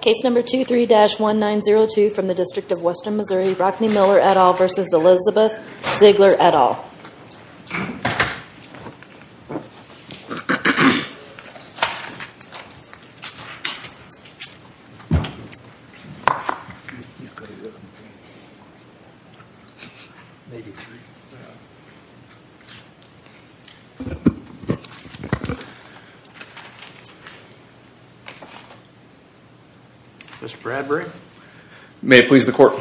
Case number 23-1902 from the District of Western Missouri, Rockne Miller v. Elizabeth Ziegler at all. Mr. Bradbury. May it please the court.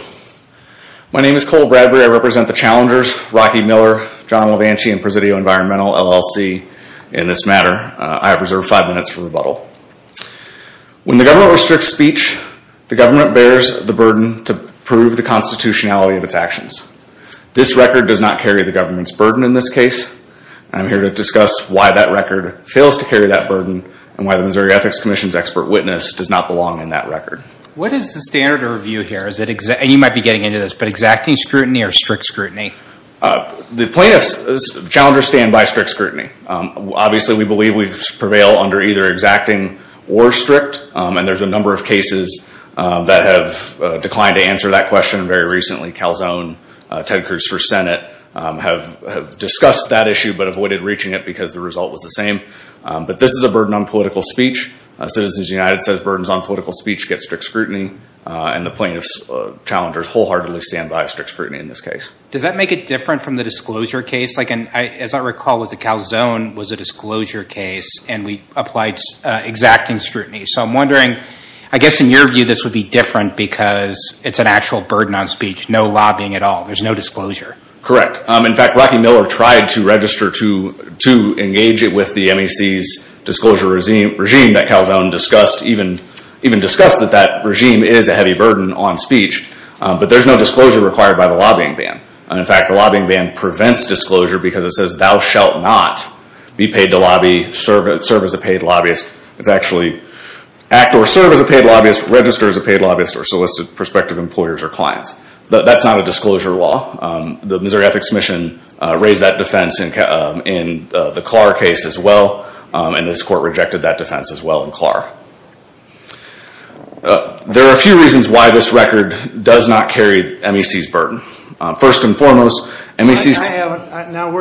My name is Cole Bradbury. I represent the challengers, Rocky Miller, John Lovanchi and Presidio Environmental LLC in this matter. I have reserved five minutes for rebuttal. When the government restricts speech, the government bears the burden to prove the constitutionality of its actions. This record does not carry the government's burden in this case. I'm here to discuss why that record fails to carry that burden and why the Missouri Ethics Commission's expert witness does not belong in that record. What is the standard of review here, and you might be getting into this, but exacting scrutiny or strict scrutiny? The plaintiffs, challengers stand by strict scrutiny. Obviously, we believe we prevail under either exacting or strict, and there's a number of cases that have declined to answer that question. Very recently, Calzone, Ted Cruz for Senate, have discussed that issue but avoided reaching it because the result was the same. But this is a burden on political speech. Citizens United says burdens on political speech get strict scrutiny, and the plaintiffs, challengers wholeheartedly stand by strict scrutiny in this case. Does that make it different from the disclosure case? As I recall, the Calzone was a disclosure case, and we applied exacting scrutiny. So I'm wondering, I guess in your view, this would be different because it's an actual burden on speech, no lobbying at all. There's no disclosure. Correct. In fact, Rocky Miller tried to register to engage it with the MEC's disclosure regime that Calzone discussed, even discussed that that regime is a heavy burden on speech, but there's no disclosure required by the lobbying ban. In fact, the lobbying ban prevents disclosure because it says thou shalt not be paid to lobby, serve as a paid lobbyist. It's actually act or serve as a paid lobbyist, register as a paid lobbyist, or solicit prospective employers or clients. That's not a disclosure law. The Missouri Ethics Commission raised that defense in the Clarr case as well, and this court rejected that defense as well in Clarr. There are a few reasons why this record does not carry MEC's burden. First and foremost, MEC's- Now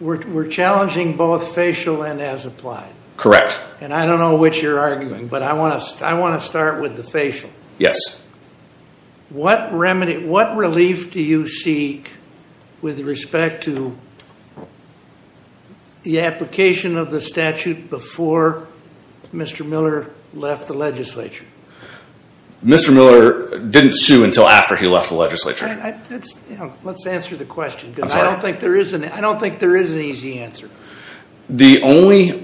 we're challenging both facial and as applied. Correct. And I don't know which you're arguing, but I want to start with the facial. Yes. What remedy, what relief do you see with respect to the application of the statute before Mr. Miller left the legislature? Mr. Miller didn't sue until after he left the legislature. Let's answer the question because I don't think there is an easy answer. The only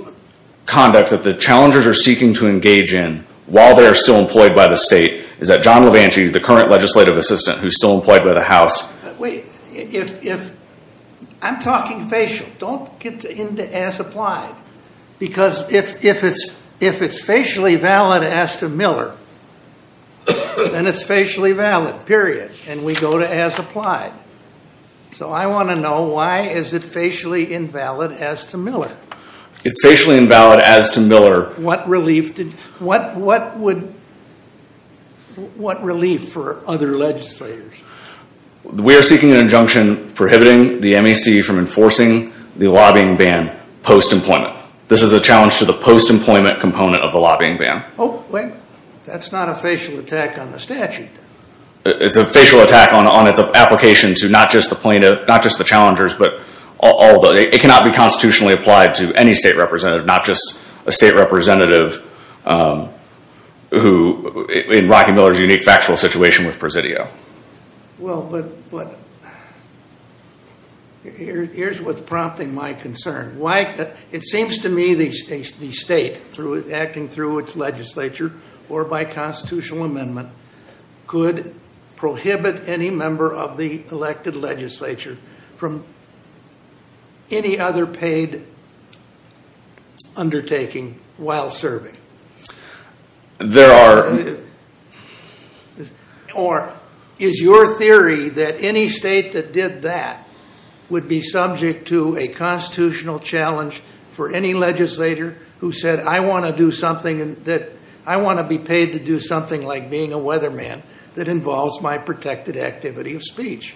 conduct that the challengers are seeking to engage in while they're still employed by the state is that John Levanti, the current legislative assistant who's still employed by the house- Wait. I'm talking facial. Don't get into as applied. Because if it's facially valid as to Miller, then it's facially valid, period. And we go to as applied. So I want to know why is it facially invalid as to Miller? It's facially invalid as to Miller. What relief for other legislators? We are seeking an injunction prohibiting the MEC from enforcing the lobbying ban post-employment. This is a challenge to the post-employment component of the lobbying ban. That's not a facial attack on the statute. It's a facial attack on its application to not just the challengers, but all of them. It cannot be constitutionally applied to any state representative, not just a state representative who, in Rocky Miller's unique factual situation with Presidio. Well, but here's what's prompting my concern. It seems to me the state, acting through its legislature or by constitutional amendment, could prohibit any member of the elected legislature from any other paid undertaking while serving. There are- Or is your theory that any state that did that would be subject to a constitutional challenge for any legislator who said, I want to be paid to do something like being a weatherman that involves my protected activity of speech?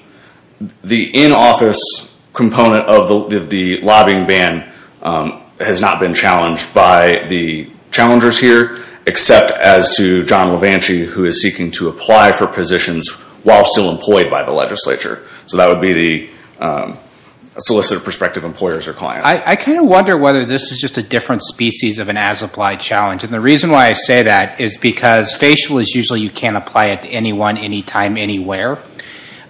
The in-office component of the lobbying ban has not been challenged by the challengers here, except as to John Levanchy, who is seeking to apply for positions while still employed by the legislature. So that would be the solicited prospective employers or clients. I kind of wonder whether this is just a different species of an as-applied challenge. And the reason why I say that is because facial is usually you can't apply it to anyone, anytime, anywhere.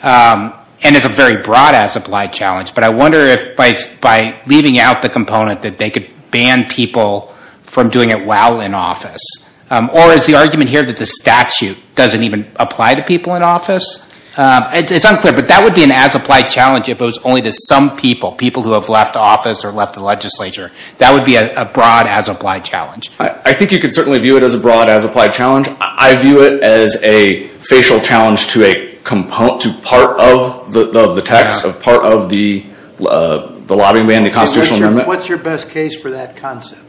And it's a very broad as-applied challenge. But I wonder if by leaving out the component that they could ban people from doing it while in office. Or is the argument here that the statute doesn't even apply to people in office? It's unclear, but that would be an as-applied challenge if it was only to some people, people who have left office or left the legislature. That would be a broad as-applied challenge. I think you could certainly view it as a broad as-applied challenge. I view it as a facial challenge to part of the tax, part of the lobbying ban, the constitutional amendment. What's your best case for that concept?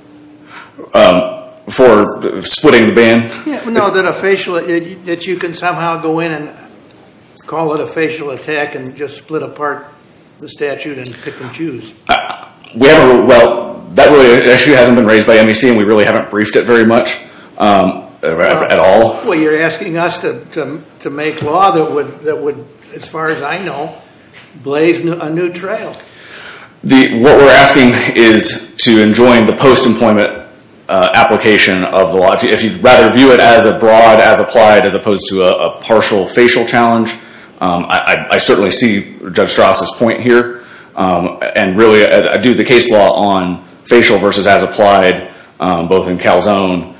For splitting the ban? No, that a facial, that you can somehow go in and call it a facial attack and just split apart the statute and pick and choose. We haven't, well, that really hasn't been raised by MEC and we really haven't briefed it very much at all. Well, you're asking us to make law that would, as far as I know, blaze a new trail. What we're asking is to enjoin the post-employment application of the law. If you'd rather view it as a broad as-applied as opposed to a partial facial challenge. I certainly see Judge Strauss' point here. And really, I do the case law on facial versus as-applied, both in Calzone,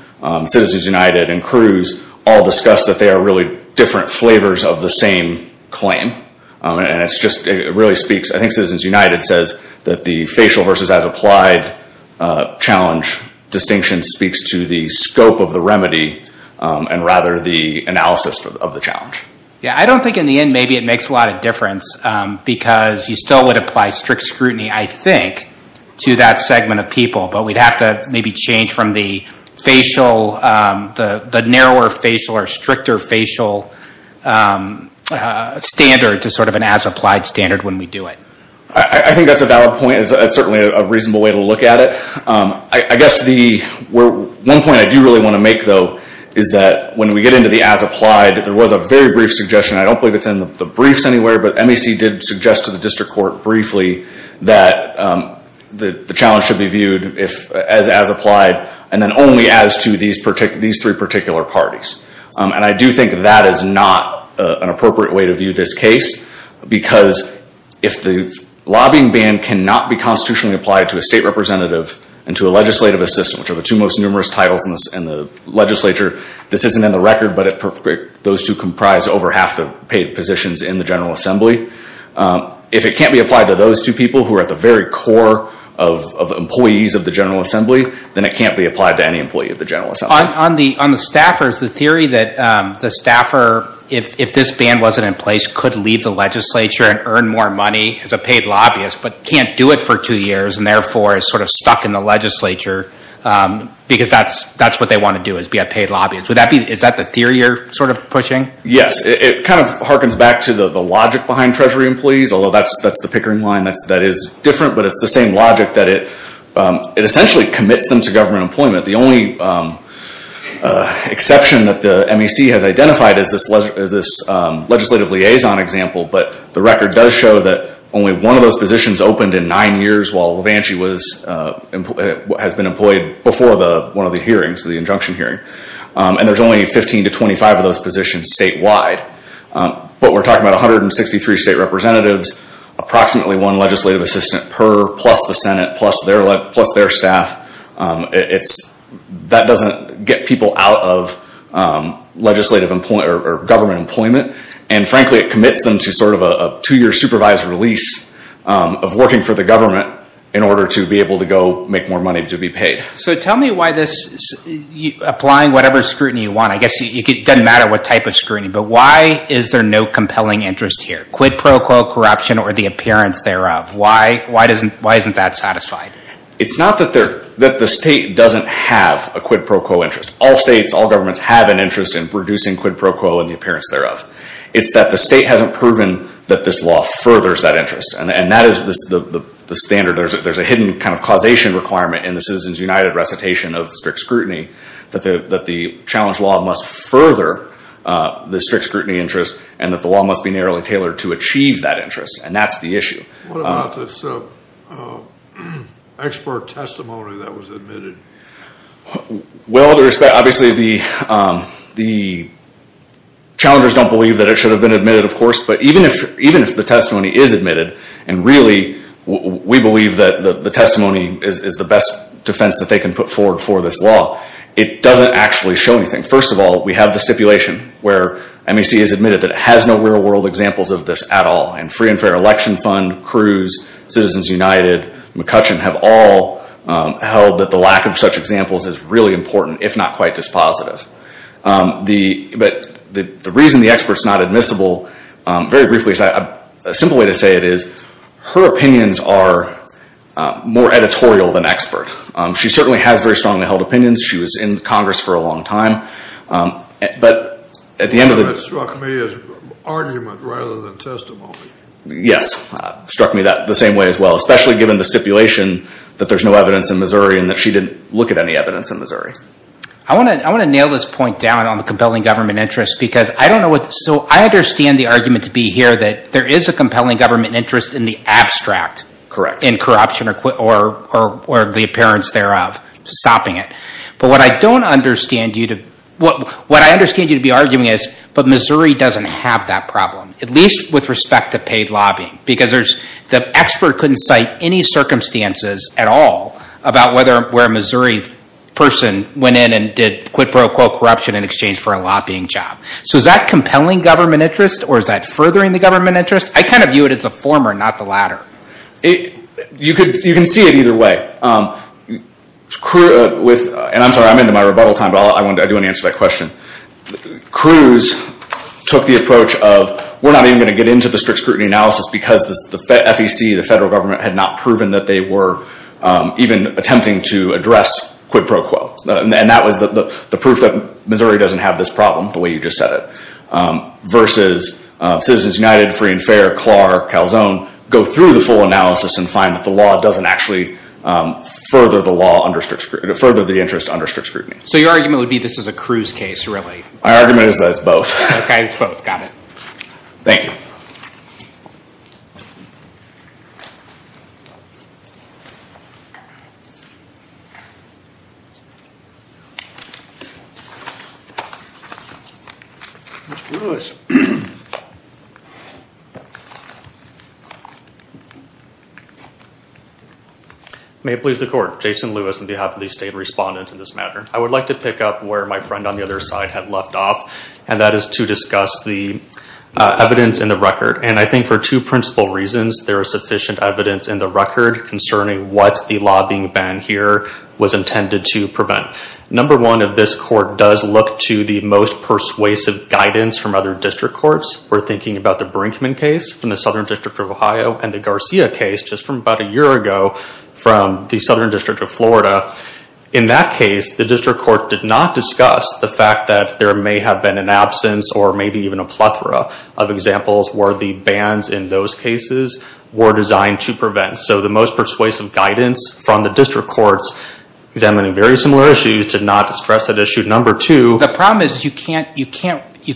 Citizens United, and Cruz all discuss that they are really different flavors of the same claim. And it's just, it really speaks, I think Citizens United says that the facial versus as-applied challenge distinction speaks to the scope of the remedy and rather the analysis of the challenge. Yeah, I don't think in the end maybe it makes a lot of difference because you still would apply strict scrutiny, I think, to that segment of people, but we'd have to maybe change from the facial, the narrower facial or stricter facial standard to sort of an as-applied standard when we do it. I think that's a valid point. It's certainly a reasonable way to look at it. I guess the one point I do really want to make, though, is that when we get into the as-applied, there was a very brief suggestion, I don't believe it's in the briefs anywhere, but MEC did suggest to the district court briefly that the challenge should be viewed as as-applied and then only as to these three particular parties. And I do think that is not an appropriate way to view this case because if the lobbying ban cannot be constitutionally applied to a state representative and to a legislative assistant, which are the two most numerous titles in the legislature, this isn't in the record, but those two comprise over half the paid positions in the General Assembly. If it can't be applied to those two people who are at the very core of employees of the General Assembly, then it can't be applied to any employee of the General Assembly. On the staffers, the theory that the staffer, if this ban wasn't in place, could leave the legislature and earn more money as a paid lobbyist, but can't do it for two years and therefore is sort of stuck in the legislature because that's what they want to do is be a paid lobbyist. Is that the theory you're sort of pushing? Yes, it kind of harkens back to the logic behind Treasury employees, although that's the pickering line that is different, but it's the same logic that it essentially commits them to government employment. The only exception that the MEC has identified is this legislative liaison example, but the record does show that only one of those positions opened in nine years while Levanchy has been employed before one of the hearings, the injunction hearing. There's only 15 to 25 of those positions statewide, but we're talking about 163 state representatives, approximately one legislative assistant per, plus the Senate, plus their staff. That doesn't get people out of legislative employment or government employment, and frankly it commits them to sort of a two-year supervised release of working for the government in order to be able to go make more money to be paid. So tell me why this, applying whatever scrutiny you want, I guess it doesn't matter what type of scrutiny, but why is there no compelling interest here? Quid pro quo corruption or the appearance thereof? Why isn't that satisfied? It's not that the state doesn't have a quid pro quo interest. All states, all governments have an interest in producing quid pro quo and the appearance thereof. It's that the state hasn't proven that this law furthers that interest, and that is the standard. There's a hidden kind of causation requirement in the Citizens United recitation of strict scrutiny that the challenge law must further the strict scrutiny interest, and that the law must be narrowly tailored to achieve that interest, and that's the issue. What about this expert testimony that was admitted? Well, obviously the challengers don't believe that it should have been admitted, of course, but even if the testimony is admitted, and really we believe that the testimony is the best defense that they can put forward for this law, it doesn't actually show anything. First of all, we have the stipulation where MEC has admitted that it has no real world examples of this at all, and Free and Fair Election Fund, Cruz, Citizens United, McCutcheon have all held that the lack of such examples is really important, if not quite this positive. But the reason the expert's not admissible, very briefly, a simple way to say it is, her opinions are more editorial than expert. She certainly has very strongly held opinions. She was in Congress for a long time, but at the end of the... That struck me as argument rather than testimony. Yes, struck me that the same way as well, especially given the stipulation that there's no evidence in Missouri, and that she didn't look at any evidence in Missouri. I want to nail this point down on the compelling government interest, because I don't know what... So I understand the argument to be here that there is a compelling government interest in the abstract, in corruption or the appearance thereof, stopping it. But what I don't understand you to... What I understand you to be arguing is, but Missouri doesn't have that problem, at least with respect to paid lobbying, because the expert couldn't cite any circumstances at all about whether a Missouri person went in and did, quid pro quo corruption in exchange for a lobbying job. So is that compelling government interest, or is that furthering the government interest? I kind of view it as the former, not the latter. You can see it either way. And I'm sorry, I'm into my rebuttal time, but I do want to answer that question. Cruz took the approach of, we're not even going to get into the strict scrutiny analysis, because the FEC, the federal government, had not proven that they were even attempting to address quid pro quo. And that was the proof that Missouri doesn't have this problem, the way you just said it. Versus Citizens United, Free and Fair, CLAR, Calzone, go through the full analysis and find that the law doesn't actually further the law under strict scrutiny, further the interest under strict scrutiny. So your argument would be this is a Cruz case, really? My argument is that it's both. Okay, it's both. Got it. Thank you. Mr. Lewis. May it please the court, Jason Lewis on behalf of the state respondents in this matter. I would like to pick up where my friend on the other side had left off, and that is to discuss the evidence in the record. And I think for two principal reasons, there is sufficient evidence in the record concerning what the lobbying ban here was intended to prevent. Number one, if this court does look to the most persuasive guidance from other district courts, we're thinking about the Brinkman case from the Southern District of Ohio, and the Garcia case just from about a year ago from the Southern District of Florida. In that case, the district court did not discuss the fact that there may have been an absence, or maybe even a plethora of examples where the bans in those cases were designed to prevent. So the most persuasive guidance from the district courts examining very similar issues did not stress that issue. Number two, the problem is you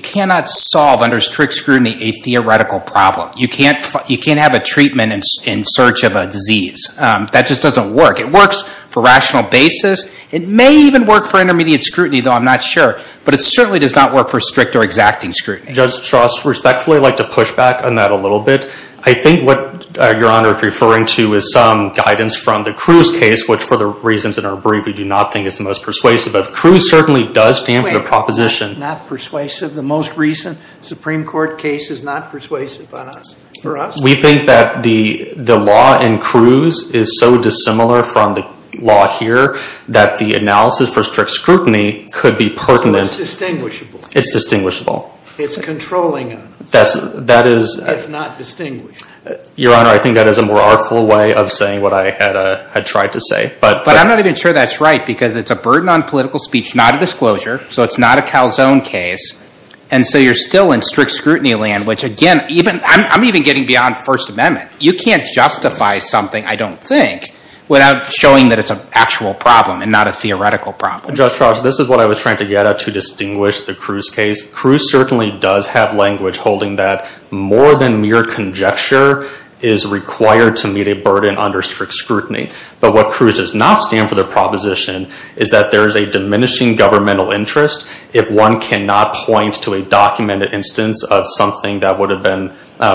cannot solve under strict scrutiny a theoretical problem. You can't have a treatment in search of a disease. That just doesn't work. It works for rational basis. It may even work for intermediate scrutiny, though I'm not sure. But it certainly does not work for strict or exacting scrutiny. Judge Strauss, respectfully, I'd like to push back on that a little bit. I think what Your Honor is referring to is some guidance from the Cruz case, which for the reasons that are brief, we do not think is the most persuasive. But Cruz certainly does stand for the proposition. Not persuasive? The most recent Supreme Court case is not persuasive on us? For us? We think that the law in Cruz is so dissimilar from the law here that the analysis for strict scrutiny could be pertinent. It's distinguishable. It's distinguishable. It's controlling us. It's not distinguishable. Your Honor, I think that is a more artful way of saying what I had tried to say. But I'm not even sure that's right, because it's a burden on political speech, not a disclosure. So it's not a calzone case. And so you're still in strict scrutiny land, which again, I'm even getting beyond First Amendment. You can't justify something, I don't think, without showing that it's an actual problem and not a theoretical problem. Judge Strauss, this is what I was trying to get at to distinguish the Cruz case. Cruz certainly does have language holding that more than mere conjecture is required to meet a burden under strict scrutiny. But what Cruz does not stand for, the proposition, is that there is a diminishing governmental interest if one cannot point to a documented instance of something that would have been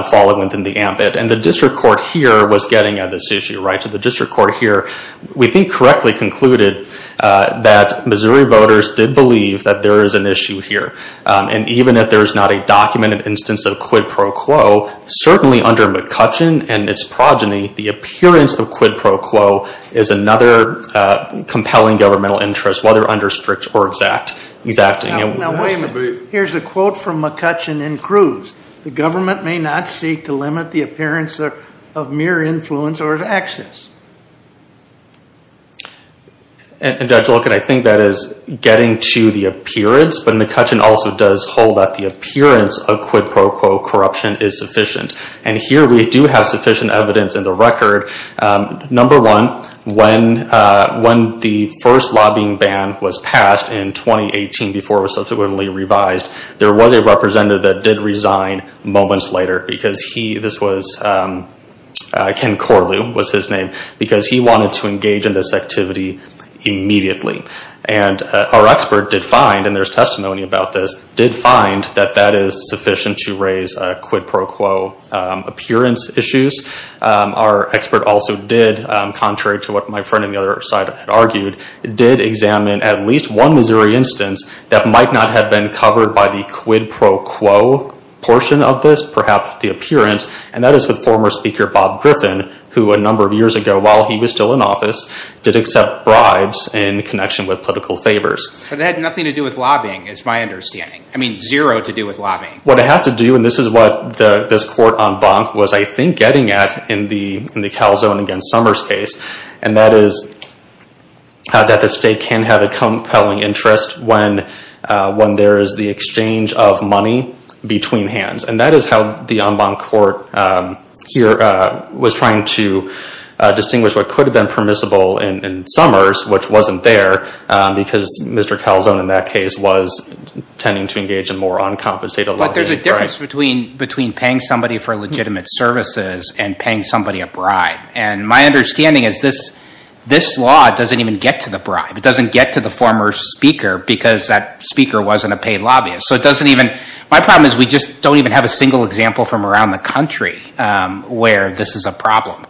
followed within the ambit. And the district court here was getting at this issue, right? So the district court here, we think, correctly concluded that Missouri voters did believe that there is an issue here. And even if there is not a documented instance of quid pro quo, certainly under McCutcheon and its progeny, the appearance of quid pro quo is another compelling governmental interest, whether under strict or exacting. Now, wait a minute. Here's a quote from McCutcheon and Cruz. The government may not seek to limit the appearance of mere influence or of access. And Judge Loken, I think that is getting to the appearance. But McCutcheon also does hold that the appearance of quid pro quo corruption is sufficient. And here we do have sufficient evidence in the record. Number one, when the first lobbying ban was passed in 2018, before it was subsequently revised, there was a representative that did resign moments later because he, this was Ken Corlew was his name, because he wanted to engage in this activity immediately. And our expert did find, and there's testimony about this, did find that that is sufficient to raise quid pro quo appearance issues. Our expert also did, contrary to what my friend on the other side had argued, did examine at least one Missouri instance that might not have been covered by the quid pro quo portion of this, perhaps the appearance. And that is with former Speaker Bob Griffin, who a number of years ago, while he was still in office, did accept bribes in connection with political favors. But it had nothing to do with lobbying, is my understanding. I mean, zero to do with lobbying. What it has to do, and this is what this court en banc was, I think, getting at in the Calzone against Summers case. And that is that the state can have a compelling interest when there is the exchange of money between hands. And that is how the en banc court here was trying to distinguish what could have been permissible in Summers, which wasn't there, because Mr. Calzone in that case was tending to engage in more uncompensated lobbying. But there's a difference between paying somebody for legitimate services and paying somebody a bribe. And my understanding is this law doesn't even get to the bribe. It doesn't get to the former speaker because that speaker wasn't a paid lobbyist. So it doesn't even, my problem is we just don't even have a single example from around the country where this is a problem.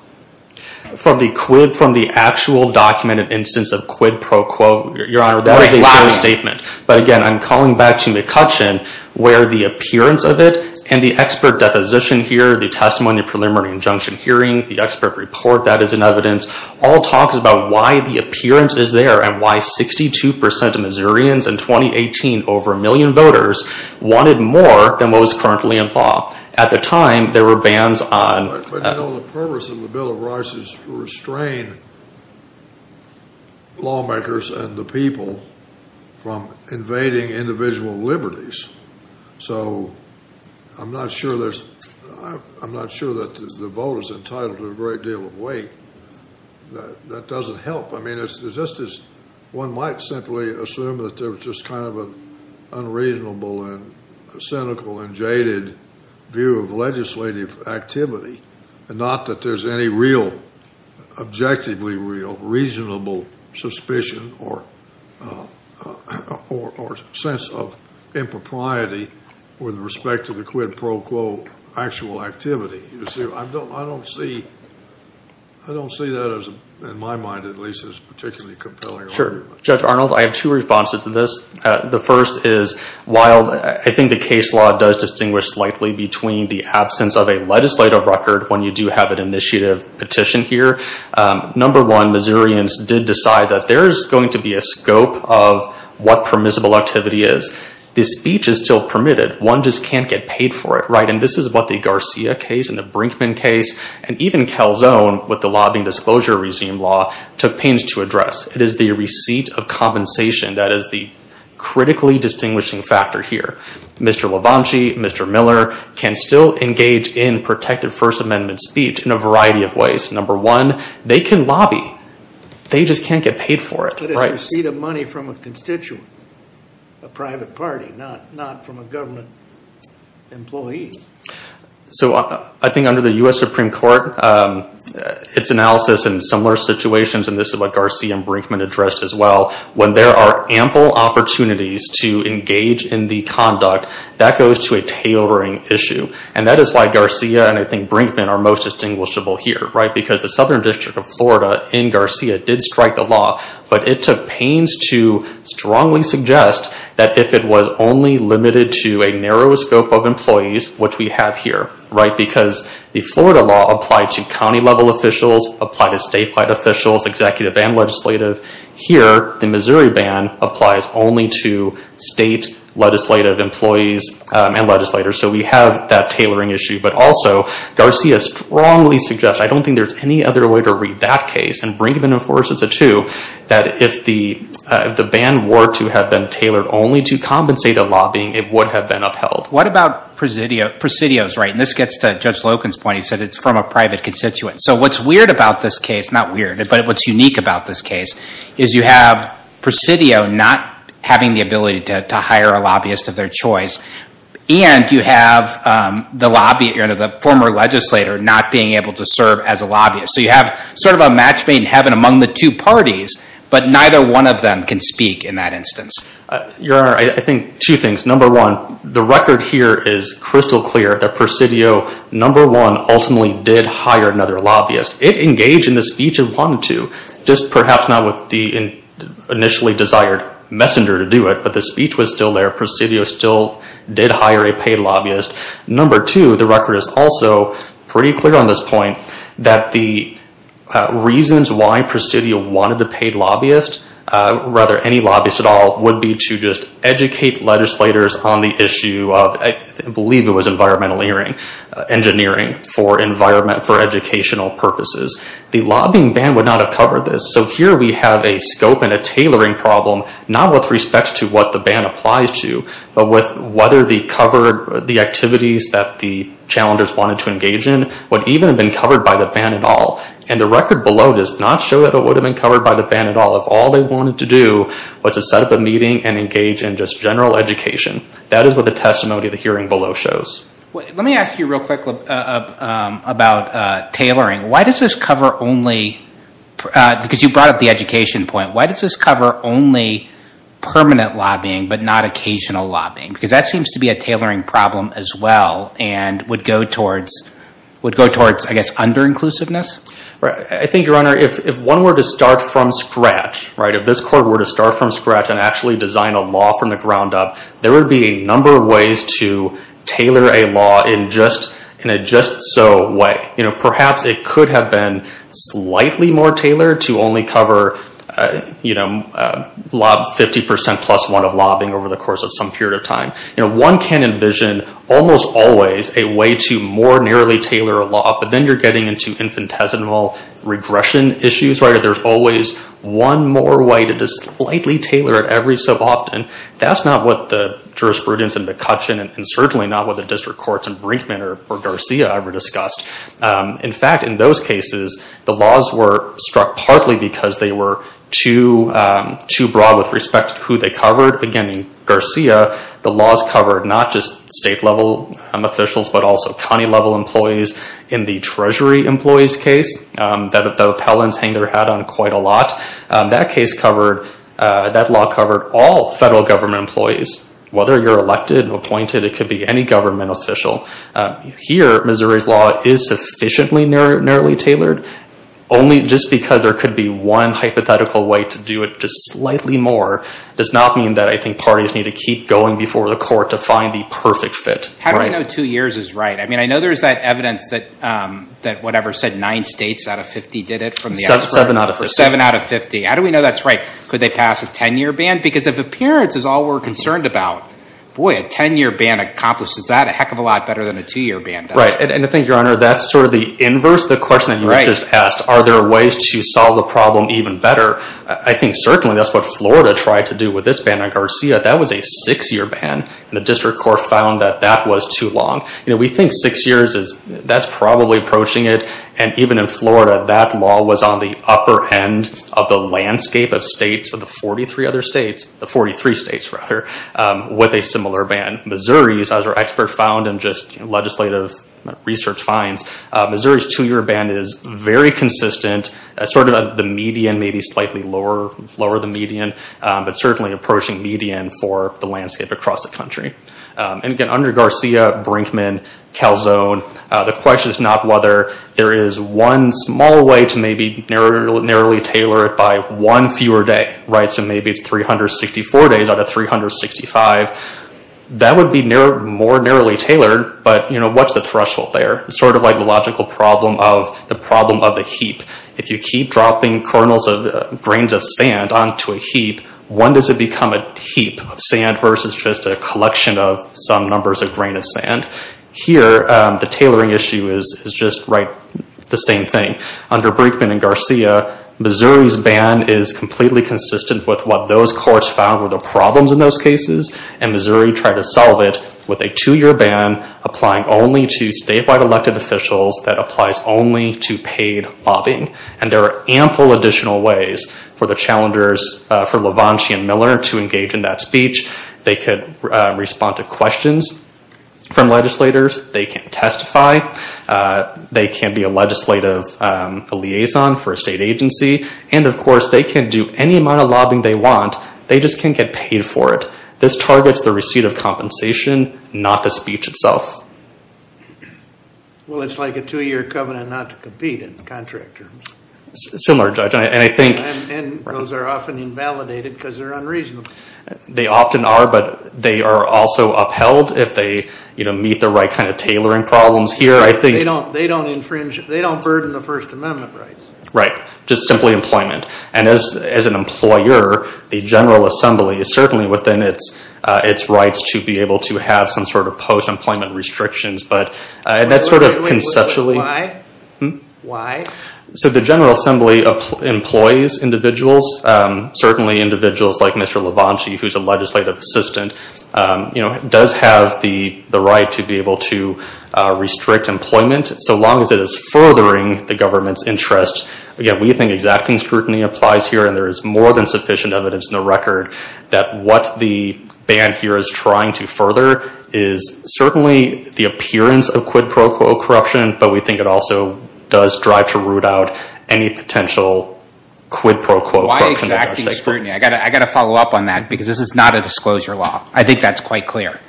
From the quid, from the actual documented instance of quid pro quo, your honor, that is a fair statement. But again, I'm calling back to McCutcheon where the appearance of it and the expert deposition here, the testimony preliminary injunction hearing, the expert report that is in evidence, all talks about why the appearance is there and why 62% of Missourians in 2018, over a million voters, wanted more than what was currently in law. At the time, there were bans on... But you know, the purpose of the Bill of Rights is to restrain lawmakers and the people from invading individual liberties. So I'm not sure that the vote is entitled to a great deal of weight. That doesn't help. I mean, it's just as one might simply assume that there was just kind of an unreasonable and cynical and jaded view of legislative activity. Not that there's any real, objectively real, reasonable suspicion or sense of impropriety with respect to the quid pro quo actual activity. I don't see that as, in my mind at least, as particularly compelling. Sure. Judge Arnold, I have two responses to this. The first is while I think the case law does distinguish slightly between the absence of a legislative record when you do have an initiative petition here. Number one, Missourians did decide that there's going to be a scope of what permissible activity is. This speech is still permitted. One just can't get paid for it, right? And this is what the Garcia case and the Brinkman case and even Calzone with the lobbying disclosure regime law took pains to address. It is the receipt of compensation that is the critically distinguishing factor here. Mr. LaVance, Mr. Miller can still engage in protected First Amendment speech in a variety of ways. Number one, they can lobby. They just can't get paid for it. But it's a receipt of money from a constituent, a private party, not from a government employee. So I think under the US Supreme Court, its analysis in similar situations, and this is what Garcia and Brinkman addressed as well, when there are ample opportunities to engage in the conduct, that goes to a tailoring issue. And that is why Garcia and I think Brinkman are most distinguishable here, right? Because the Southern District of Florida in Garcia did strike the law, but it took pains to strongly suggest that if it was only limited to a narrow scope of employees, which we have here, right? Because the Florida law applied to county level officials, applied to statewide officials, executive and legislative. Here, the Missouri ban applies only to state legislative employees and legislators. So we have that tailoring issue, but also Garcia strongly suggests, I don't think there's any other way to read that case, and Brinkman enforces it too, that if the ban were to have been tailored only to compensate a lobbying, it would have been upheld. What about presidios, right? And this gets to Judge Loken's point. He said it's from a private constituent. So what's weird about this case, not weird, but what's unique about this case is you have presidio not having the ability to hire a lobbyist of their choice, and you have the former legislator not being able to serve as a lobbyist. So you have sort of a match made in heaven among the two parties, but neither one of them can speak in that instance. Your Honor, I think two things. Number one, the record here is crystal clear that presidio, number one, ultimately did hire another lobbyist. It engaged in the speech and wanted to, just perhaps not with the initially desired messenger to do it, but the speech was still there. Presidio still did hire a paid lobbyist. Number two, the record is also pretty clear on this point that the reasons why presidio wanted a paid lobbyist, rather any lobbyist at all, would be to just educate legislators on the issue of, I believe it was environmental engineering for environment, for educational purposes. The lobbying ban would not have covered this. So here we have a scope and a tailoring problem, not with respect to what the ban applies to, but with whether the cover, the activities that the challengers wanted to engage in would even have been covered by the ban at all. And the record below does not show that it would have been covered by the ban at all. If all they wanted to do was to set up a meeting and engage in just general education, that is what the testimony of the hearing below shows. Let me ask you real quick about tailoring. Why does this cover only, because you brought up the education point, why does this cover only permanent lobbying, but not occasional lobbying? Because that seems to be a tailoring problem as well and would go towards, I guess, under-inclusiveness. I think, Your Honor, if one were to start from scratch, if this court were to start from scratch and actually design a law from the ground up, there would be a number of ways to tailor a law in a just-so way. Perhaps it could have been slightly more tailored to only cover 50% plus one of lobbying over the course of some period of time. One can envision almost always a way to more narrowly tailor a law, but then you're getting into infinitesimal regression issues. There's always one more way to just slightly tailor it every so often. That's not what the jurisprudence in McCutcheon and certainly not what the district courts in Brinkman or Garcia ever discussed. In fact, in those cases, the laws were struck partly because they were too broad with respect to who they covered. Again, in Garcia, the laws covered not just state-level officials, but also county-level employees. In the Treasury employees case, the appellants hang their hat on quite a lot. That case covered, that law covered all federal government employees. Whether you're elected or appointed, it could be any government official. Here, Missouri's law is sufficiently narrowly tailored. Only just because there could be one hypothetical way to do it just slightly more does not mean that I think parties need to keep going before the court to find the perfect fit. How do I know two years is right? I mean, I know there's that evidence that whatever said nine states out of 50 did it from the expert. Seven out of 50. How do we know that's right? Could they pass a 10-year ban? Because if appearance is all we're concerned about, boy, a 10-year ban accomplishes that a heck of a lot better than a two-year ban does. Right, and I think, Your Honor, that's sort of the inverse. The question that you just asked, are there ways to solve the problem even better? I think certainly that's what Florida tried to do with this ban on Garcia. That was a six-year ban, and the district court found that that was too long. We think six years is, that's probably approaching it. And even in Florida, that law was on the upper end of the landscape of states of the 43 other states, the 43 states rather, with a similar ban. Missouri's, as our expert found in just legislative research finds, Missouri's two-year ban is very consistent as sort of the median, maybe slightly lower the median, but certainly approaching median for the landscape across the country. And again, under Garcia, Brinkman, Calzone, the question is not whether there is one small way to maybe narrowly tailor it by one fewer day, right? So maybe it's 364 days out of 365. That would be more narrowly tailored, but what's the threshold there? It's sort of like the logical problem of the problem of the heap. If you keep dropping kernels of grains of sand onto a heap, when does it become a heap of sand versus just a collection of some numbers of grain of sand? Here, the tailoring issue is just right the same thing. Under Brinkman and Garcia, Missouri's ban is completely consistent with what those courts found were the problems in those cases. And Missouri tried to solve it with a two-year ban applying only to statewide elected officials that applies only to paid lobbying. And there are ample additional ways for the challengers, for LaVance and Miller to engage in that speech. They could respond to questions from legislators. They can testify. They can be a legislative liaison for a state agency. And of course, they can do any amount of lobbying they want. They just can't get paid for it. This targets the receipt of compensation, not the speech itself. Well, it's like a two-year covenant not to compete in contract terms. Similar, Judge, and I think- And those are often invalidated because they're unreasonable. They often are, but they are also upheld if they meet the right kind of tailoring problems here. I think- They don't burden the First Amendment rights. Right, just simply employment. And as an employer, the General Assembly is certainly within its rights to be able to have some sort of post-employment restrictions, but that's sort of conceptually- Wait, wait, wait, why? So the General Assembly employs individuals, certainly individuals like Mr. LaVance who's a legislative assistant, you know, does have the right to be able to restrict employment so long as it is furthering the government's interest. Again, we think exacting scrutiny applies here, and there is more than sufficient evidence in the record that what the ban here is trying to further is certainly the appearance of quid pro quo corruption, but we think it also does drive to root out any potential quid pro quo corruption- Why exacting scrutiny? I got to follow up on that because this is not a disclosure law. I think that's quite clear.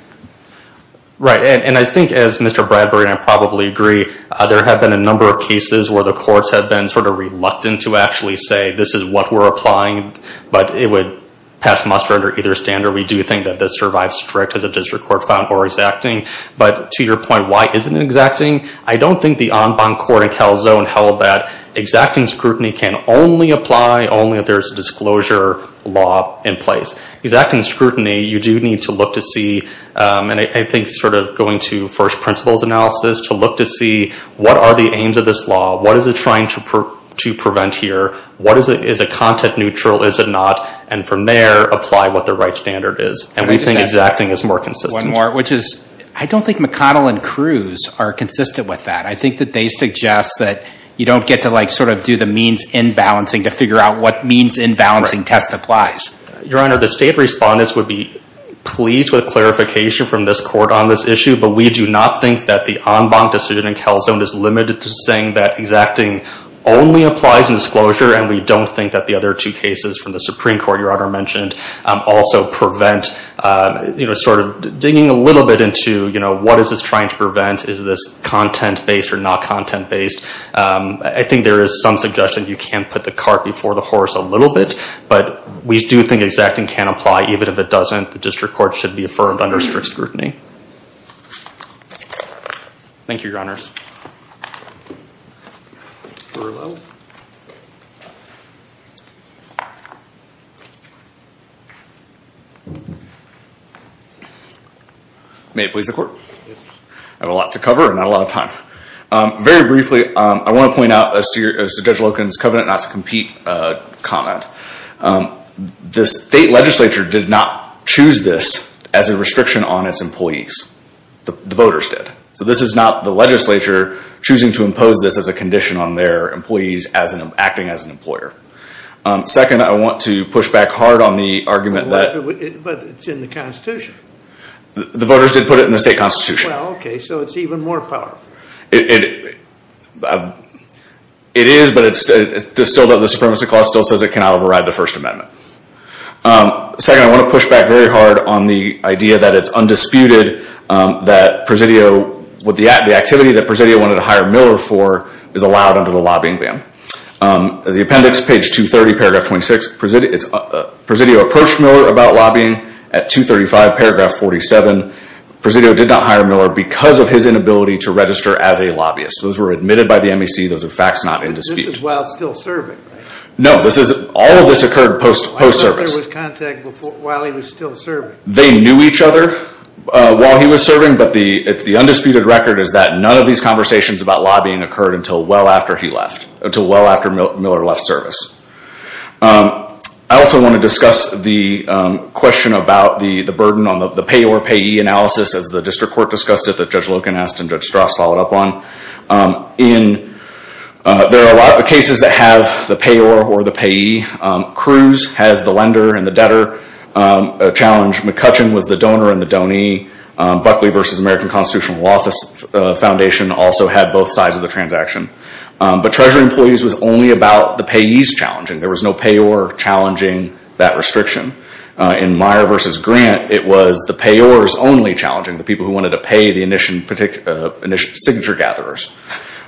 Right, and I think as Mr. Bradbury and I probably agree, there have been a number of cases where the courts have been sort of reluctant to actually say this is what we're applying, but it would pass muster under either standard. We do think that this survives strict as a district court found or exacting, but to your point, why isn't it exacting? I don't think the En Banc Court in Calzone held that exacting scrutiny can only apply only if there's a disclosure law in place. Exacting scrutiny, you do need to look to see, and I think sort of going to first principles analysis to look to see what are the aims of this law? What is it trying to prevent here? What is a content neutral? Is it not? And from there, apply what the right standard is. And we think exacting is more consistent. One more, which is, I don't think McConnell and Cruz are consistent with that. I think that they suggest that you don't get to like sort of do the means in balancing to figure out what means in balancing test applies. Your Honor, the state respondents would be pleased with clarification from this court on this issue, but we do not think that the En Banc decision in Calzone is limited to saying that exacting only applies in disclosure. And we don't think that the other two cases from the Supreme Court, Your Honor mentioned, also prevent, you know, sort of digging a little bit into, you know, what is this trying to prevent? Is this content based or not content based? I think there is some suggestion you can put the cart before the horse a little bit, but we do think exacting can apply. Even if it doesn't, the district court should be affirmed under strict scrutiny. Thank you, Your Honors. May it please the court. I have a lot to cover and not a lot of time. Very briefly, I want to point out as to Judge Loken's covenant not to compete comment. The state legislature did not choose this as a restriction on its employees. The voters did. So this is not the legislature choosing to impose this as a condition on their employees acting as an employer. Second, I want to push back hard on the argument that... But it's in the constitution. The voters did put it in the state constitution. Well, okay. So it's even more powerful. It is, but it's still, the Supremacy Clause still says it cannot override the First Amendment. Second, I want to push back very hard on the idea that it's undisputed that Presidio, with the activity that Presidio wanted to hire Miller for is allowed under the lobbying ban. The appendix, page 230, paragraph 26. Presidio approached Miller about lobbying at 235, paragraph 47. Presidio did not hire Miller because of his inability to register as a lobbyist. Those were admitted by the MEC. Those are facts not in dispute. This is while still serving, right? No, this is... All of this occurred post-service. Miller was contacted while he was still serving. They knew each other while he was serving, but the undisputed record is that none of these conversations about lobbying occurred until well after he left, until well after Miller left service. I also want to discuss the question about the burden on the payor-payee analysis as the district court discussed it that Judge Logan asked and Judge Strauss followed up on. There are a lot of cases that have the payor or the payee. Cruz has the lender and the debtor challenge. McCutcheon was the donor and the donee. Buckley v. American Constitutional Law Foundation also had both sides of the transaction. But Treasury Employees was only about the payees challenging. There was no payor challenging that restriction. In Meyer v. Grant, it was the payors only challenging, the people who wanted to pay the signature gatherers.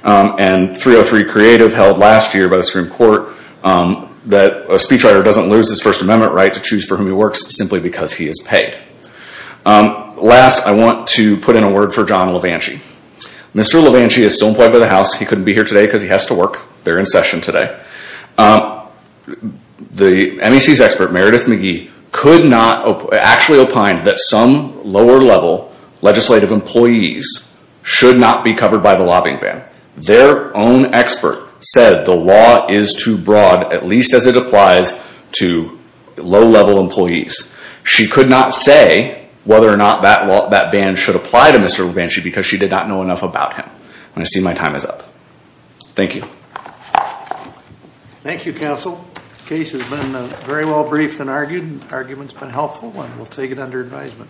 And 303 Creative held last year by the Supreme Court that a speechwriter doesn't lose his First Amendment right to choose for whom he works simply because he is paid. Last, I want to put in a word for John Levanchy. Mr. Levanchy is still employed by the House. He couldn't be here today because he has to work. They're in session today. The MEC's expert, Meredith McGee, could not, actually opined that some lower-level legislative employees should not be covered by the lobbying ban. Their own expert said the law is too broad, at least as it applies to low-level employees. She could not say whether or not that ban should apply to Mr. Levanchy because she did not know enough about him. And I see my time is up. Thank you. Thank you, Counsel. Case has been very well briefed and argued. Argument's been helpful and we'll take it under advisement.